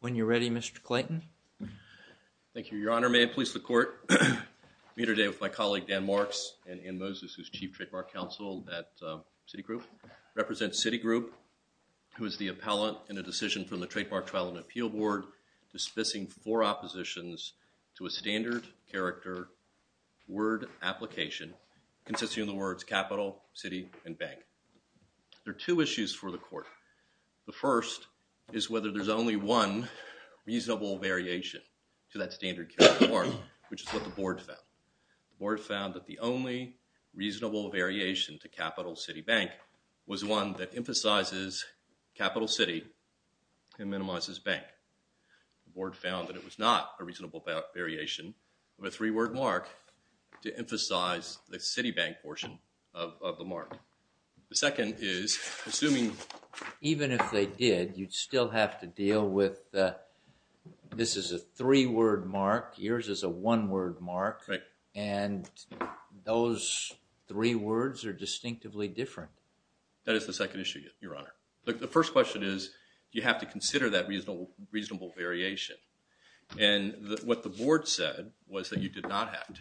When you're ready, Mr. Clayton. Thank you, your honor. May it please the court. I'm here today with my colleague, Dan Marks, and Ann Moses, who's Chief Trademark Counsel at Citigroup, represents Citigroup, who is the appellant in a decision from the Trademark Trial and Appeal Board dismissing four oppositions to a standard character word application consisting of the words capital, city, and bank. There are two issues for the court. The first is whether there's only one reasonable variation to that standard character word, which is what the board found. The board found that the only reasonable variation to capital, city, bank was one that emphasizes capital city and minimizes bank. The board found that it was not a reasonable variation of a three-word mark to emphasize the city bank portion of the mark. The second is, assuming even if they did, you'd still have to deal with the, this is a three-word mark, yours is a one-word mark, and those three words are distinctively different. That is the second issue, your honor. The first question is, do you have to consider that reasonable variation, and what the board said was that you did not have to.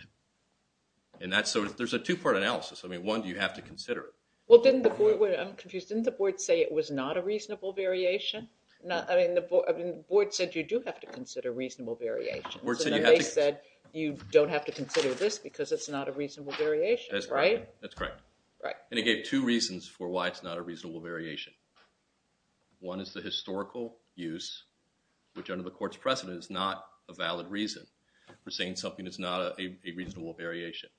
There's a two-part analysis. I mean, one, do you have to consider it? Well, didn't the board, I'm confused, didn't the board say it was not a reasonable variation? Board said you do have to consider reasonable variations, and then they said you don't have to consider this because it's not a reasonable variation, right? That's correct. And it gave two reasons for why it's not a reasonable variation. One is the historical use, which under the court's precedent is not a valid reason for saying something is not a reasonable variation.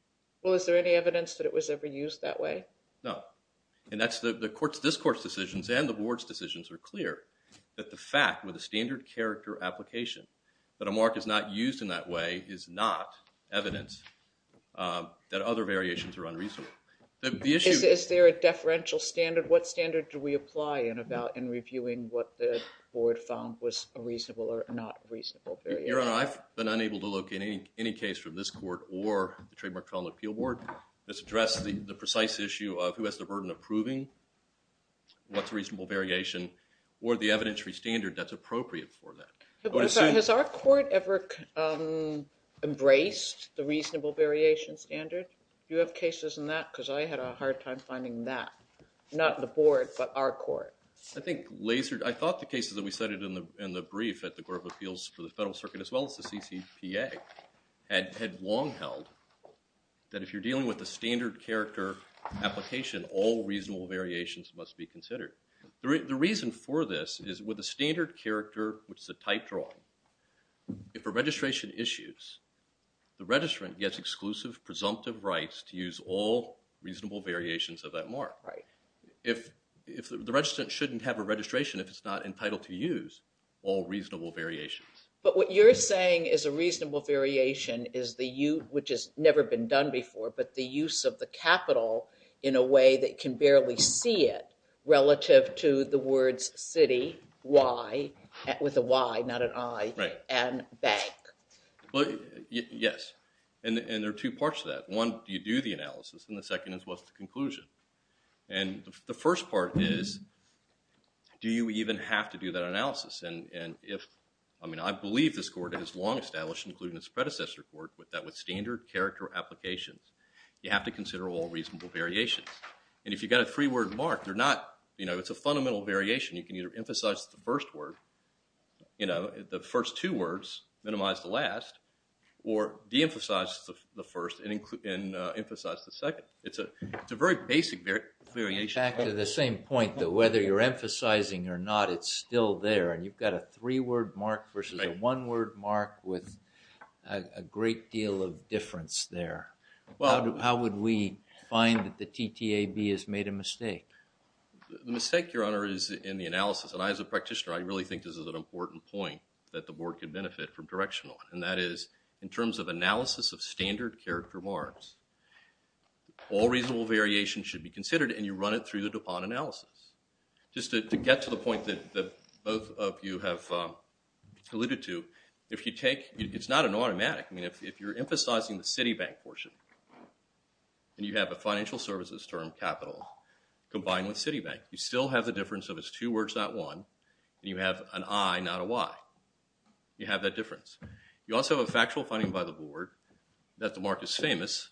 Well, is there any evidence that it was ever used that way? No. And that's the court's discourse decisions and the board's decisions are clear that the fact with a standard character application that a mark is not used in that way is not evidence that other variations are unreasonable. Is there a deferential standard? What standard do we apply in reviewing what the board found was a reasonable or not reasonable variation? Your Honor, I've been unable to locate any case from this court or the Trademark College Appeal Board that's addressed the precise issue of who has the burden of proving what's a reasonable variation or the evidentiary standard that's appropriate for that. Has our court ever embraced the reasonable variation standard? Do you have cases in that? Because I had a hard time finding that, not the board, but our court. I thought the cases that we cited in the brief at the Court of Appeals for the Federal Circuit as well as the CCPA had long held that if you're dealing with a standard character application, all reasonable variations must be considered. The reason for this is with a standard character, which is a type draw, if a registration issues, the registrant gets exclusive presumptive rights to use all reasonable variations of that mark. If the registrant shouldn't have a registration if it's not entitled to use all reasonable variations. But what you're saying is a reasonable variation is the use, which has never been done before, but the use of the capital in a way that can barely see it relative to the words city, y, with a y, not an i, and bank. Yes. And there are two parts to that. One, you do the analysis, and the second is what's the conclusion. And the first part is, do you even have to do that analysis? And if, I mean, I believe this court has long established, including its predecessor court, that with standard character applications, you have to consider all reasonable variations. And if you've got a three-word mark, they're not, you know, it's a fundamental variation. You can either emphasize the first word, you know, the first two words, minimize the last, or de-emphasize the first and emphasize the second. It's a very basic variation. Back to the same point, though. Whether you're emphasizing or not, it's still there, and you've got a three-word mark versus a one-word mark with a great deal of difference there. The mistake, Your Honor, is in the analysis. And I, as a practitioner, I really think this is an important point that the board could benefit from direction on. And that is, in terms of analysis of standard character marks, all reasonable variations should be considered, and you run it through the DuPont analysis. Just to get to the point that both of you have alluded to, if you take, it's not an automatic. I mean, if you're emphasizing the Citibank portion, and you have a financial services term, capital, combined with Citibank, you still have the difference of it's two words, not one, and you have an I, not a Y. You have that difference. You also have a factual finding by the board that the mark is famous,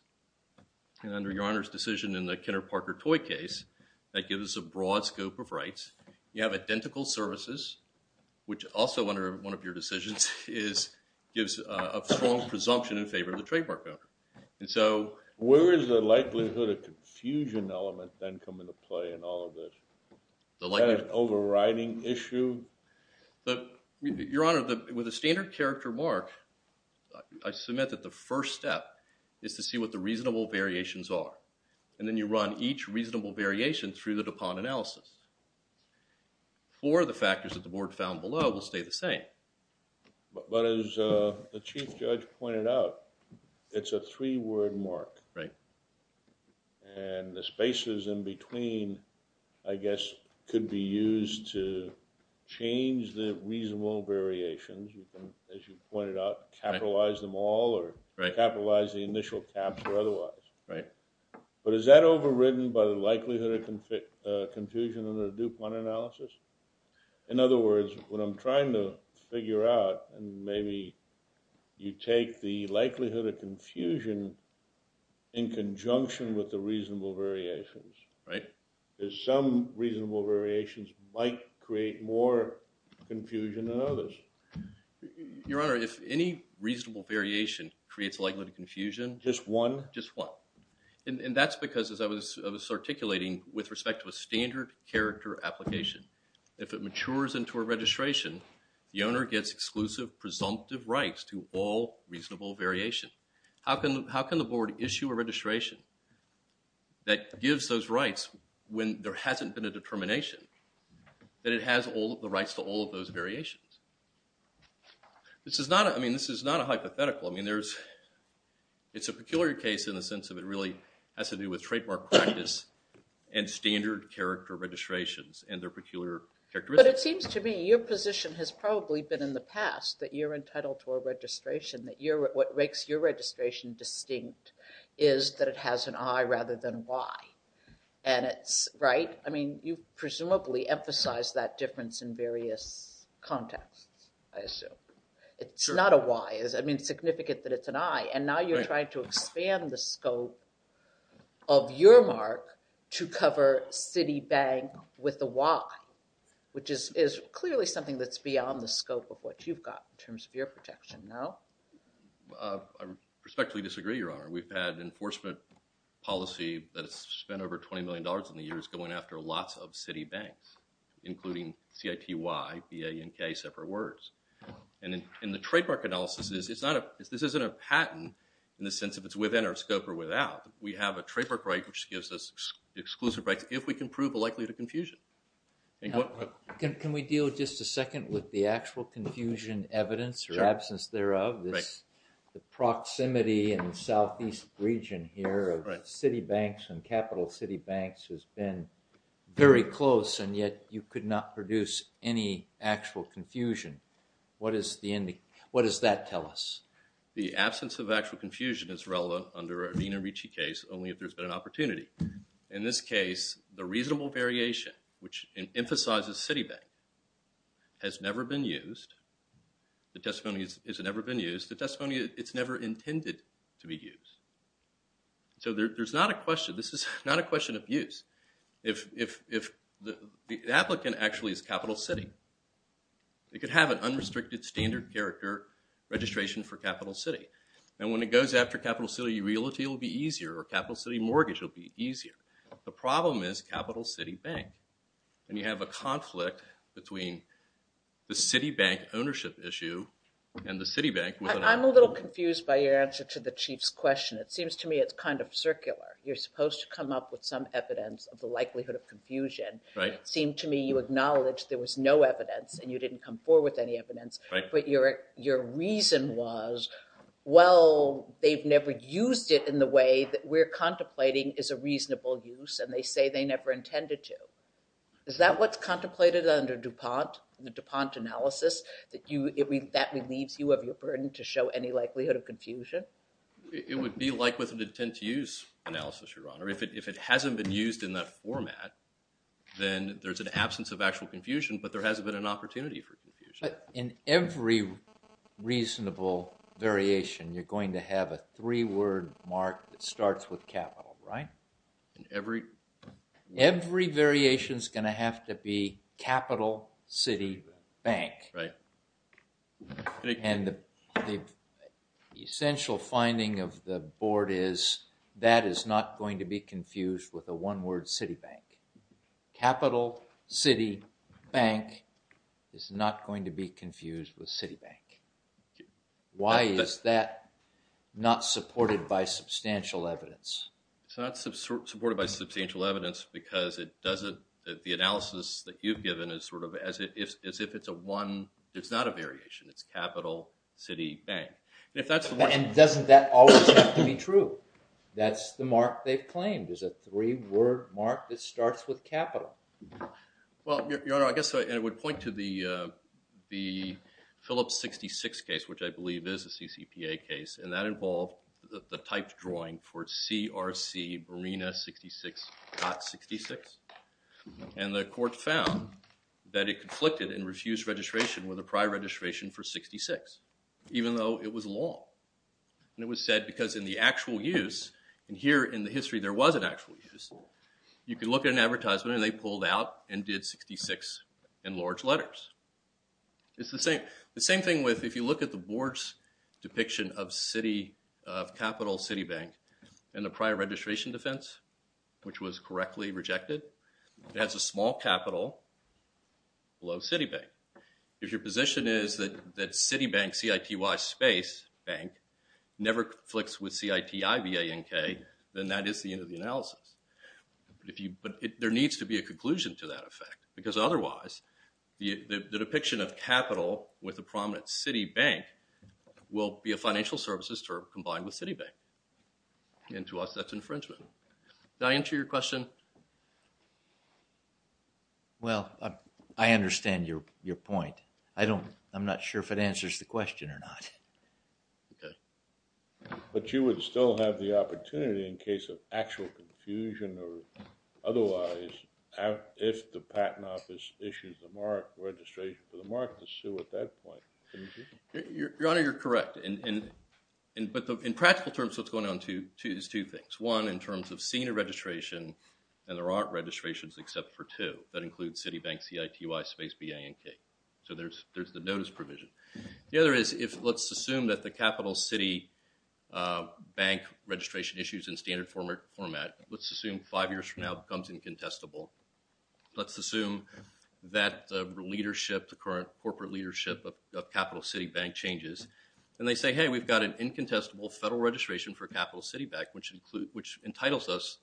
and under Your Honor's decision in the Kenner-Parker-Toy case, that gives us a broad scope of rights. You have identical services, which also, under one of your decisions, gives a strong presumption in favor of the trademark owner. And so... Where is the likelihood of confusion element then come into play in all of this? The likelihood... Is that an overriding issue? Your Honor, with a standard character mark, I submit that the first step is to see what the reasonable variations are, and then you run each reasonable variation through the DuPont analysis. Four of the factors that the board found below will stay the same. But as the Chief Judge pointed out, it's a three-word mark, and the spaces in between, I guess, could be used to change the reasonable variations, as you pointed out, capitalize them all, or capitalize the initial caps or otherwise. But is that overridden by the likelihood of confusion in the DuPont analysis? In other words, what I'm trying to figure out, and maybe you take the likelihood of confusion in conjunction with the reasonable variations, is some reasonable variations might create more confusion than others. Your Honor, if any reasonable variation creates a likelihood of confusion... Just one? Just one. And that's because, as I was articulating, with respect to a standard character application, if it matures into a registration, the owner gets exclusive presumptive rights to all reasonable variation. How can the board issue a registration that gives those rights when there hasn't been a determination that it has the rights to all of those variations? This is not a hypothetical. I mean, it's a peculiar case in the sense that it really has to do with trademark practice and standard character registrations and their peculiar characteristics. But it seems to me your position has probably been in the past that you're entitled to a registration, that what makes your registration distinct is that it has an I rather than a Y. Right? I mean, you presumably emphasize that difference in various contexts, I assume. It's not a Y. I mean, it's significant that it's an I, and now you're trying to expand the scope of your mark to cover Citibank with a Y, which is clearly something that's beyond the scope of what you've got in terms of your protection, no? I respectfully disagree, Your Honor. We've had enforcement policy that has spent over $20 million in the years going after lots of Citibanks, including CITY, BANK, separate words. And the trademark analysis is, this isn't a patent in the sense of it's within our scope or without. We have a trademark right which gives us exclusive rights if we can prove the likelihood of confusion. Can we deal just a second with the actual confusion evidence or absence thereof? The proximity in the southeast region here of Citibanks and Capital Citibanks has been very close, and yet you could not produce any actual confusion. What does that tell us? The absence of actual confusion is relevant under an Ina Ricci case, only if there's been an opportunity. In this case, the reasonable variation, which emphasizes Citibank, has never been used. The testimony has never been used. The testimony, it's never intended to be used. So there's not a question. This is not a question of use. If the applicant actually is Capital City, they could have an unrestricted standard character registration for Capital City. And when it goes after Capital City, realty will be easier, or Capital City mortgage will be easier. The problem is Capital City Bank, and you have a conflict between the Citibank ownership issue and the Citibank with an... I'm a little confused by your answer to the Chief's question. It seems to me it's kind of circular. You're supposed to come up with some evidence of the likelihood of confusion. It seemed to me you acknowledged there was no evidence, and you didn't come forward with any evidence. But your reason was, well, they've never used it in the way that we're contemplating is a reasonable use, and they say they never intended to. Is that what's contemplated under DuPont, the DuPont analysis? It would be like with an intent to use analysis, Your Honor. If it hasn't been used in that format, then there's an absence of actual confusion, but there hasn't been an opportunity for confusion. In every reasonable variation, you're going to have a three-word mark that starts with Capital, right? Every variation's going to have to be Capital City Bank. And the essential finding of the Board is that is not going to be confused with a one-word Citibank. Capital City Bank is not going to be confused with Citibank. Why is that not supported by substantial evidence? It's not supported by substantial evidence because it doesn't... It's as if it's a one... It's not a variation. It's Capital City Bank. And doesn't that always have to be true? That's the mark they've claimed is a three-word mark that starts with Capital. Well, Your Honor, I guess I would point to the Phillips 66 case, which I believe is a CCPA case, and that involved the typed drawing for CRC Marina 66.66. And the court found that it conflicted in refused registration with a prior registration for 66, even though it was long. And it was said because in the actual use, and here in the history there was an actual use, you could look at an advertisement and they pulled out and did 66 in large letters. It's the same... The same thing with... If you look at the Board's depiction of Capital City Bank and the prior registration defense, which was correctly rejected, it has a small capital below City Bank. If your position is that City Bank, C-I-T-Y space bank, never conflicts with C-I-T-I-V-A-N-K, then that is the end of the analysis. But there needs to be a conclusion to that effect because otherwise, the depiction of Capital with a prominent City Bank will be a financial services term combined with City Bank. And to us, that's infringement. Did I answer your question? Well, I understand your point. I don't... I'm not sure if it answers the question or not. Okay. But you would still have the opportunity in case of actual confusion or otherwise, if the Patent Office issues the mark, registration for the mark, to sue at that point. Your Honor, you're correct. But in practical terms, what's going on is two things. One, in terms of senior registration, and there aren't registrations except for two that include City Bank, C-I-T-Y space B-A-N-K. So there's the notice provision. The other is, let's assume that the Capital City Bank registration issues in standard format. Let's assume five years from now it becomes incontestable. Let's assume that the leadership, the current corporate leadership of Capital City Bank changes, and they say, hey, we've got an incontestable federal registration for Capital City Bank, which entitles us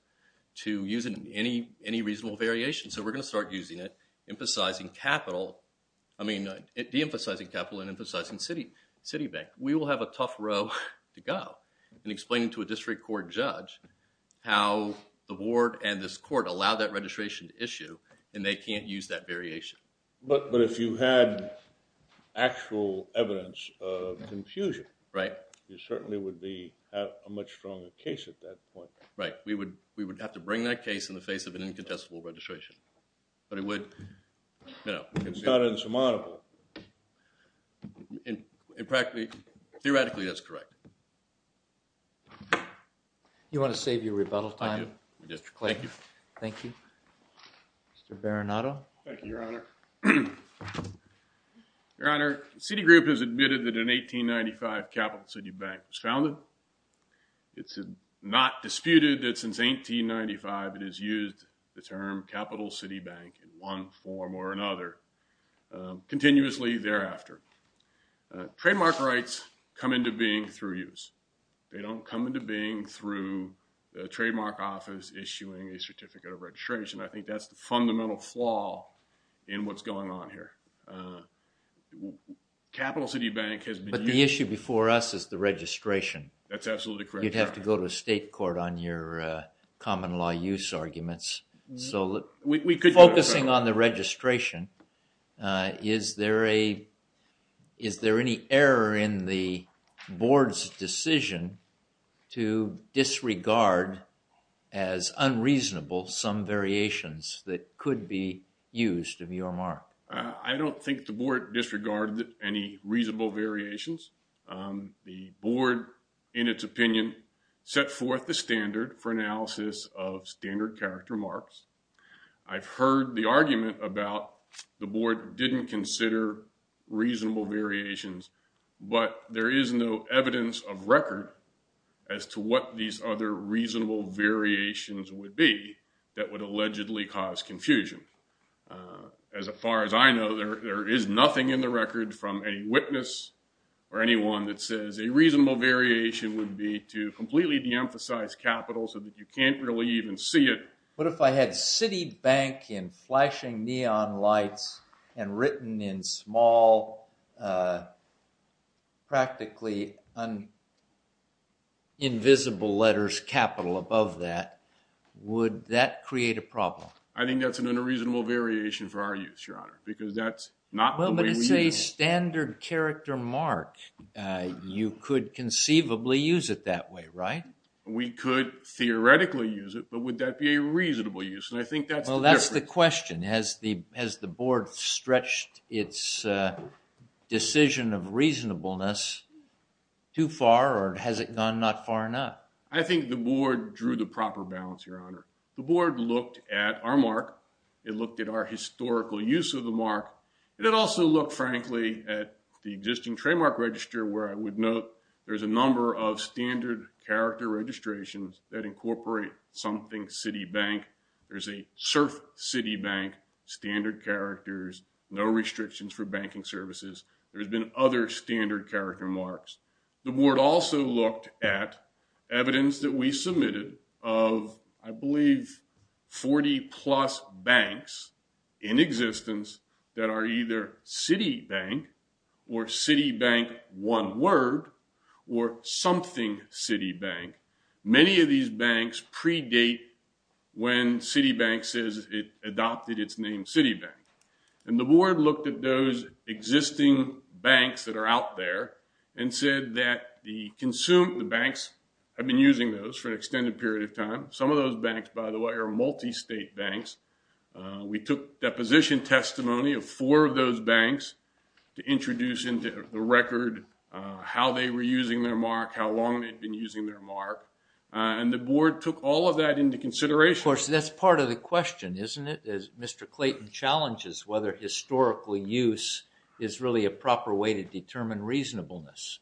to use any reasonable variation. So we're going to start using it, emphasizing capital... I mean, deemphasizing capital and emphasizing City Bank. We will have a tough row to go in explaining to a district court judge how the board and this court allowed that registration to issue, and they can't use that variation. But if you had actual evidence of confusion, it certainly would be a much stronger case at that point. Right. We would have to bring that case in the face of an incontestable registration. But it would, you know... It's not insurmountable. Theoretically, that's correct. You want to save your rebuttal time? I do. Thank you. Thank you. Mr. Baranato. Thank you, Your Honor. Your Honor, Citigroup has admitted that in 1895 Capital City Bank was founded. It's not disputed that since 1895 it has used the term Capital City Bank in one form or another, continuously thereafter. Trademark rights come into being through use. They don't come into being through the trademark office issuing a certificate of registration. I think that's the fundamental flaw in what's going on here. Capital City Bank has... But the issue before us is the registration. That's absolutely correct. You'd have to go to state court on your common law use arguments. So, focusing on the registration, is there any error in the board's decision to disregard as unreasonable some variations that could be used of your mark? I don't think the board disregarded any reasonable variations. The board, in its opinion, set forth the standard for analysis of standard character marks. I've heard the argument about the board didn't consider reasonable variations, but there is no evidence of record as to what these other reasonable variations would be that would allegedly cause confusion. As far as I know, there is nothing in the record from any witness or anyone that says a reasonable variation would be to completely de-emphasize capital so that you can't really even see it. What if I had City Bank in flashing neon lights and written in small, practically invisible letters capital above that? Would that create a problem? I think that's an unreasonable variation for our use, Your Honor, because that's not the way we use it. Well, but it's a standard character mark. You could conceivably use it that way, right? We could theoretically use it, but would that be a reasonable use? And I think that's the difference. Well, that's the question. Has the board stretched its decision of reasonableness too far, or has it gone not far enough? I think the board drew the proper balance, Your Honor. The board looked at our mark. It looked at our historical use of the mark. It also looked, frankly, at the existing trademark register where I would note there's a number of standard character registrations that incorporate something City Bank. There's a surf City Bank, standard characters, no restrictions for banking services. There's been other standard character marks. The board also looked at evidence that we submitted of, I believe, 40-plus banks in something City Bank. Many of these banks predate when City Bank says it adopted its name City Bank. And the board looked at those existing banks that are out there and said that the banks have been using those for an extended period of time. Some of those banks, by the way, are multi-state banks. We took deposition testimony of four of those banks to introduce into the record how they were using their mark, how long they'd been using their mark. And the board took all of that into consideration. Of course, that's part of the question, isn't it? Mr. Clayton challenges whether historical use is really a proper way to determine reasonableness.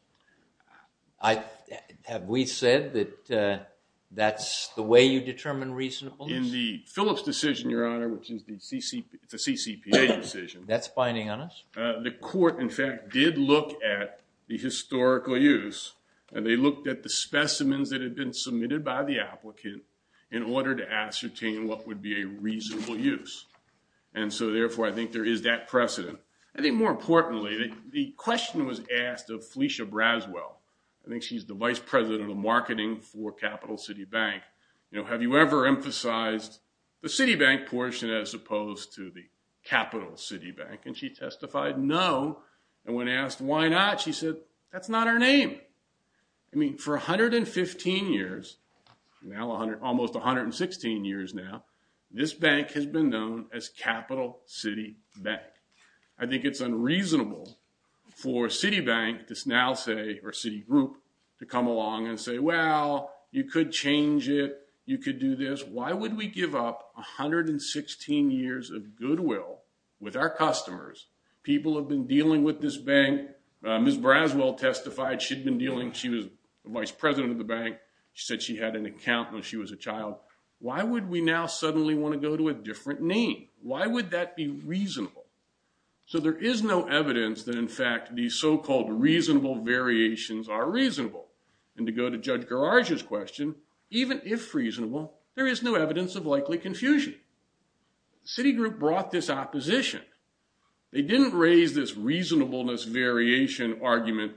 Have we said that that's the way you determine reasonableness? In the Phillips decision, Your Honor, which is the CCPA decision. That's binding on us? The court, in fact, did look at the historical use, and they looked at the specimens that had been submitted by the applicant in order to ascertain what would be a reasonable use. And so, therefore, I think there is that precedent. I think, more importantly, the question was asked of Felicia Braswell. I think she's the vice president of marketing for Capital City Bank. Have you ever emphasized the City Bank portion as opposed to the Capital City Bank? And she testified, no. And when asked why not, she said, that's not our name. I mean, for 115 years, almost 116 years now, this bank has been known as Capital City Bank. I think it's unreasonable for Citibank to now say, or Citigroup, to come along and say, well, you could change it. You could do this. Why would we give up 116 years of goodwill with our customers? People have been dealing with this bank. Ms. Braswell testified she'd been dealing. She was the vice president of the bank. She said she had an account when she was a child. Why would we now suddenly want to go to a different name? Why would that be reasonable? So there is no evidence that, in fact, these so-called reasonable variations are reasonable. And to go to Judge Garage's question, even if reasonable, there is no evidence of likely confusion. Citigroup brought this opposition. They didn't raise this reasonableness variation argument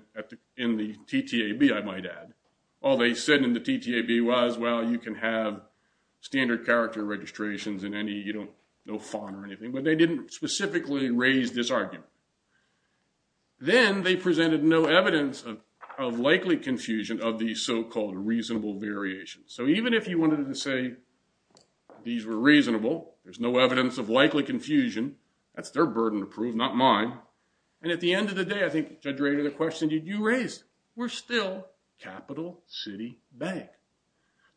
in the TTAB, I might add. All they said in the TTAB was, well, you can have standard character registrations and no FON or anything. But they didn't specifically raise this argument. Then they presented no evidence of likely confusion of these so-called reasonable variations. So even if you wanted to say these were reasonable, there's no evidence of likely confusion. That's their burden to prove, not mine. And at the end of the day, I think, Judge Rader, the question you raised, we're still Capital City Bank.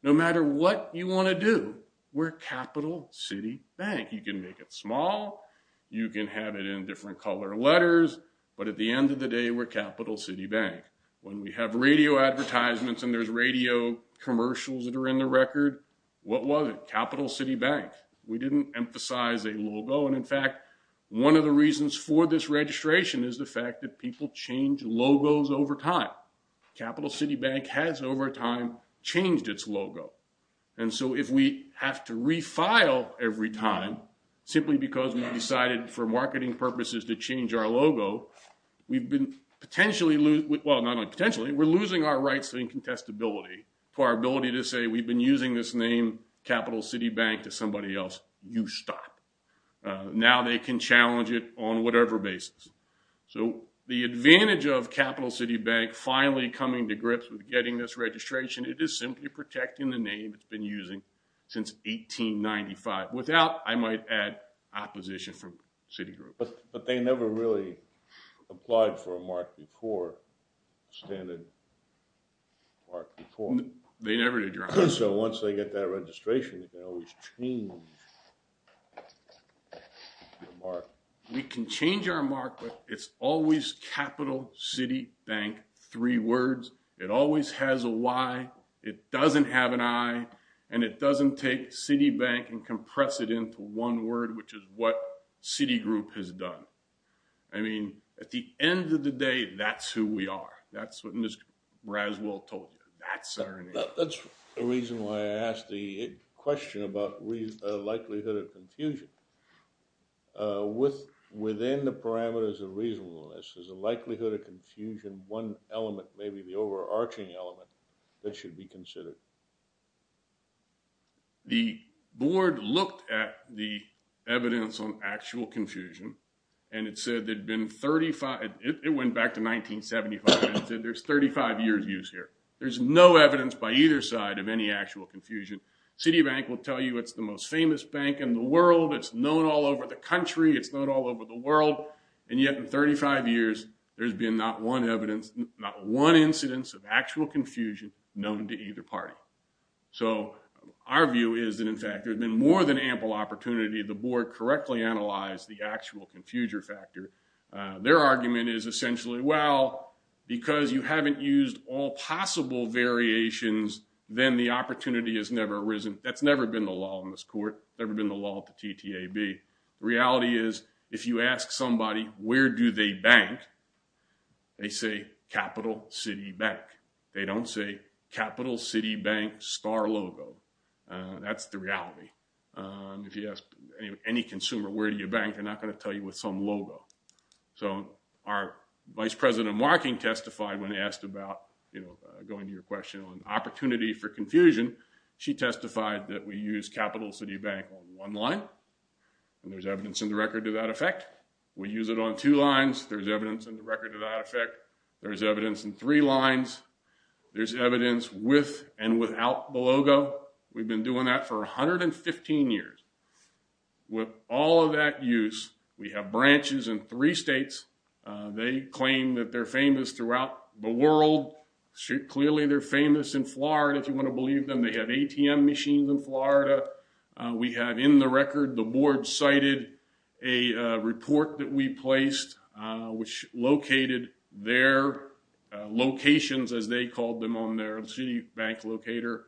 No matter what you want to do, we're Capital City Bank. You can make it small. You can have it in different color letters. But at the end of the day, we're Capital City Bank. When we have radio advertisements and there's radio commercials that are in the record, what was it? Capital City Bank. We didn't emphasize a logo. And, in fact, one of the reasons for this registration is the fact that people change logos over time. Capital City Bank has, over time, changed its logo. And so if we have to refile every time simply because we decided for marketing purposes to change our logo, we've been potentially losing our rights to incontestability, to our ability to say we've been using this name, Capital City Bank, to somebody else. You stop. Now they can challenge it on whatever basis. So the advantage of Capital City Bank finally coming to grips with getting this registration, it is simply protecting the name it's been using since 1895. Without, I might add, opposition from Citigroup. But they never really applied for a mark before, standard mark before. They never did, Your Honor. So once they get that registration, they always change their mark. We can change our mark, but it's always Capital City Bank, three words. It always has a why. It doesn't have an I. And it doesn't take City Bank and compress it into one word, which is what Citigroup has done. I mean, at the end of the day, that's who we are. That's what Ms. Raswell told you. That's our name. That's the reason why I asked the question about likelihood of confusion. Within the parameters of reasonableness, there's a likelihood of confusion. And one element, maybe the overarching element, that should be considered. The board looked at the evidence on actual confusion. And it said there'd been 35 – it went back to 1975. It said there's 35 years' use here. There's no evidence by either side of any actual confusion. Citibank will tell you it's the most famous bank in the world. It's known all over the country. It's known all over the world. And yet in 35 years, there's been not one evidence, not one incidence of actual confusion known to either party. So our view is that, in fact, there's been more than ample opportunity. The board correctly analyzed the actual confusion factor. Their argument is essentially, well, because you haven't used all possible variations, then the opportunity has never arisen. That's never been the law in this court. Never been the law at the TTAB. The reality is if you ask somebody, where do they bank, they say Capital City Bank. They don't say Capital City Bank star logo. That's the reality. If you ask any consumer, where do you bank, they're not going to tell you with some logo. So our Vice President Marking testified when asked about, you know, going to your question on opportunity for confusion. She testified that we use Capital City Bank on one line, and there's evidence in the record to that effect. We use it on two lines. There's evidence in the record to that effect. There's evidence in three lines. There's evidence with and without the logo. We've been doing that for 115 years. With all of that use, we have branches in three states. They claim that they're famous throughout the world. Clearly, they're famous in Florida, if you want to believe them. They have ATM machines in Florida. We have in the record, the board cited a report that we placed, which located their locations, as they called them on their city bank locator.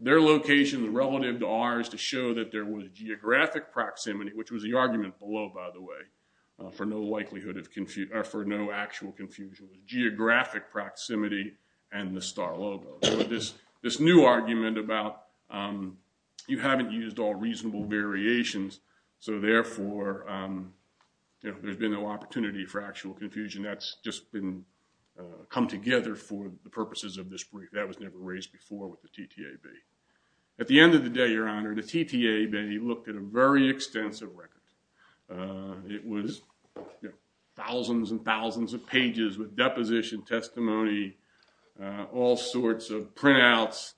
Their locations relative to ours to show that there was geographic proximity, which was the argument below, by the way, for no actual confusion. It was geographic proximity and the star logo. So this new argument about you haven't used all reasonable variations, so therefore, you know, there's been no opportunity for actual confusion. That's just been come together for the purposes of this brief. That was never raised before with the TTAB. At the end of the day, Your Honor, the TTAB looked at a very extensive record. It was thousands and thousands of pages with deposition testimony, all sorts of printouts,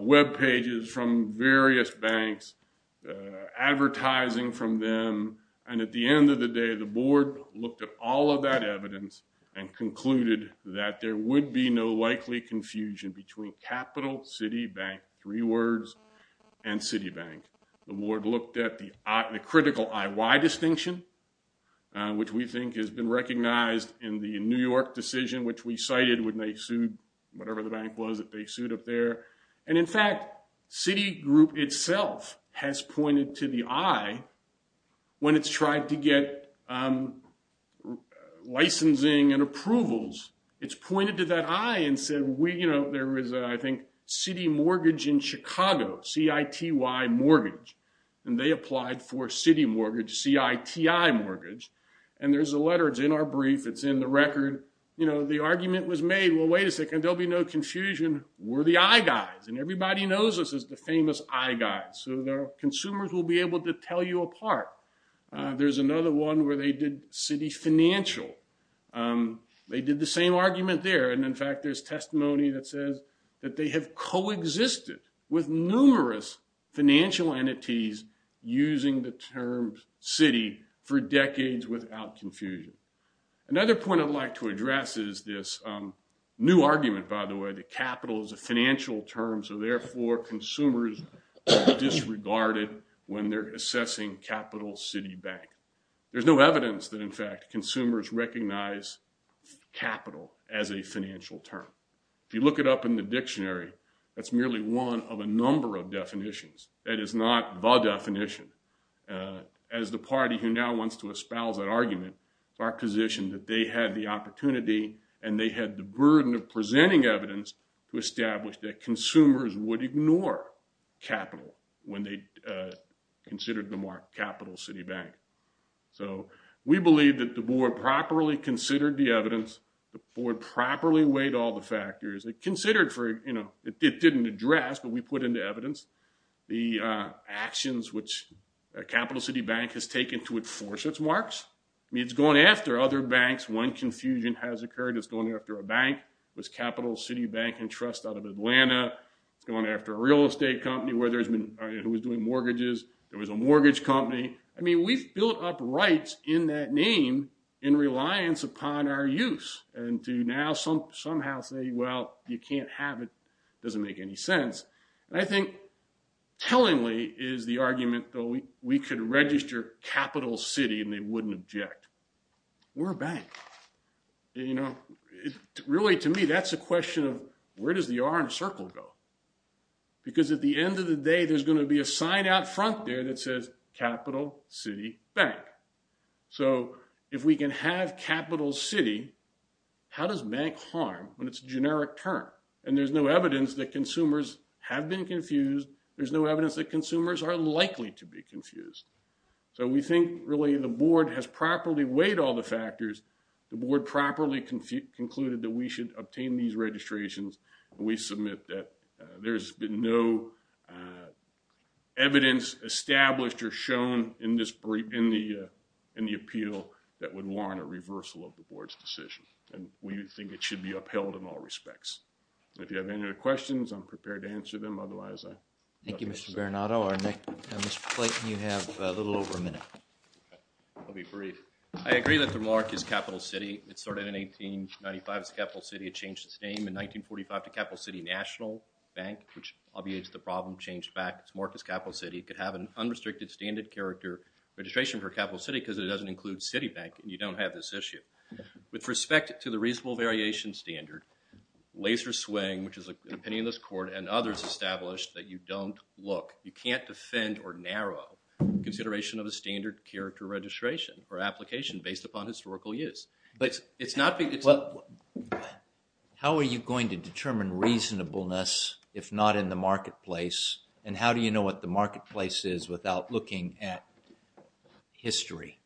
web pages from various banks, advertising from them. And at the end of the day, the board looked at all of that evidence and concluded that there would be no likely confusion between capital city bank, three words, and city bank. The board looked at the critical IY distinction, which we think has been recognized in the New York decision, which we cited when they sued whatever the bank was that they sued up there. And in fact, Citigroup itself has pointed to the I when it's tried to get licensing and approvals. It's pointed to that I and said, you know, there was, I think, city mortgage in Chicago, CITY mortgage, and they applied for city mortgage, CITI mortgage. And there's a letter, it's in our brief, it's in the record. You know, the argument was made, well, wait a second, there'll be no confusion. We're the I guys, and everybody knows us as the famous I guys. So the consumers will be able to tell you apart. There's another one where they did city financial. They did the same argument there. And in fact, there's testimony that says that they have coexisted with numerous financial entities using the term city for decades without confusion. Another point I'd like to address is this new argument, by the way, that capital is a financial term. So therefore, consumers are disregarded when they're assessing capital city bank. There's no evidence that, in fact, consumers recognize capital as a financial term. If you look it up in the dictionary, that's merely one of a number of definitions. That is not the definition. As the party who now wants to espouse that argument, it's our position that they had the opportunity, and they had the burden of presenting evidence to establish that consumers would ignore capital when they considered the mark capital city bank. So we believe that the board properly considered the evidence. The board properly weighed all the factors. It didn't address, but we put into evidence the actions which capital city bank has taken to enforce its marks. I mean, it's going after other banks. One confusion has occurred. It's going after a bank. It was capital city bank and trust out of Atlanta. It's going after a real estate company who was doing mortgages. There was a mortgage company. I mean, we've built up rights in that name in reliance upon our use. And to now somehow say, well, you can't have it doesn't make any sense. And I think tellingly is the argument that we could register capital city, and they wouldn't object. We're a bank. Really, to me, that's a question of where does the R in a circle go? Because at the end of the day, there's going to be a sign out front there that says capital city bank. So, if we can have capital city. How does make harm when it's generic term, and there's no evidence that consumers have been confused. There's no evidence that consumers are likely to be confused. So, we think really, the board has properly weighed all the factors. The board properly concluded that we should obtain these registrations. We submit that there's been no. Uh. Evidence established or shown in this in the. In the appeal that would warrant a reversal of the board's decision, and we think it should be upheld in all respects. If you have any other questions, I'm prepared to answer them. Otherwise. Thank you, Mr. Bernardo. Our next you have a little over a minute. I'll be brief. I agree that the mark is capital city. It started in 1895 capital city. It changed its name in 1945 to capital city national bank, which obviates the problem changed back. It's Marcus capital city could have an unrestricted standard character registration for capital city because it doesn't include city bank. And you don't have this issue with respect to the reasonable variation standard. Laser swing, which is an opinion of this court and others established that you don't look. You can't defend or narrow consideration of a standard character registration or application based upon historical use. It's not. How are you going to determine reasonableness if not in the marketplace? And how do you know what the marketplace is without looking at history?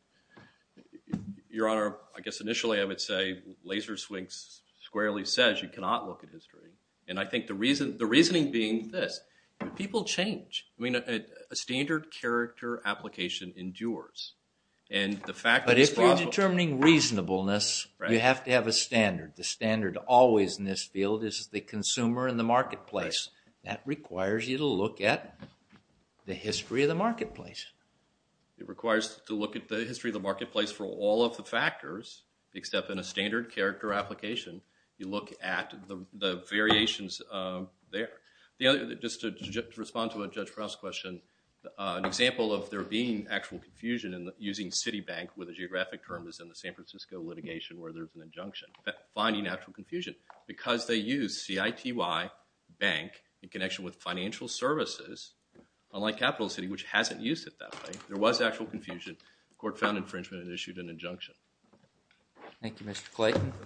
Your honor, I guess initially I would say laser swings squarely says you cannot look at history. And I think the reason the reasoning being this people change. I mean, a standard character application endures. And the fact that it's determining reasonableness, you have to have a standard. The standard always in this field is the consumer in the marketplace. That requires you to look at the history of the marketplace. It requires to look at the history of the marketplace for all of the factors, except in a standard character application. You look at the variations there. Just to respond to a Judge Prowse question. An example of there being actual confusion in using city bank with a geographic term is in the San Francisco litigation where there's an injunction. Finding actual confusion. Because they use CITY bank in connection with financial services, unlike capital city, which hasn't used it that way. There was actual confusion. Court found infringement and issued an injunction. Thank you, Mr. Clayton.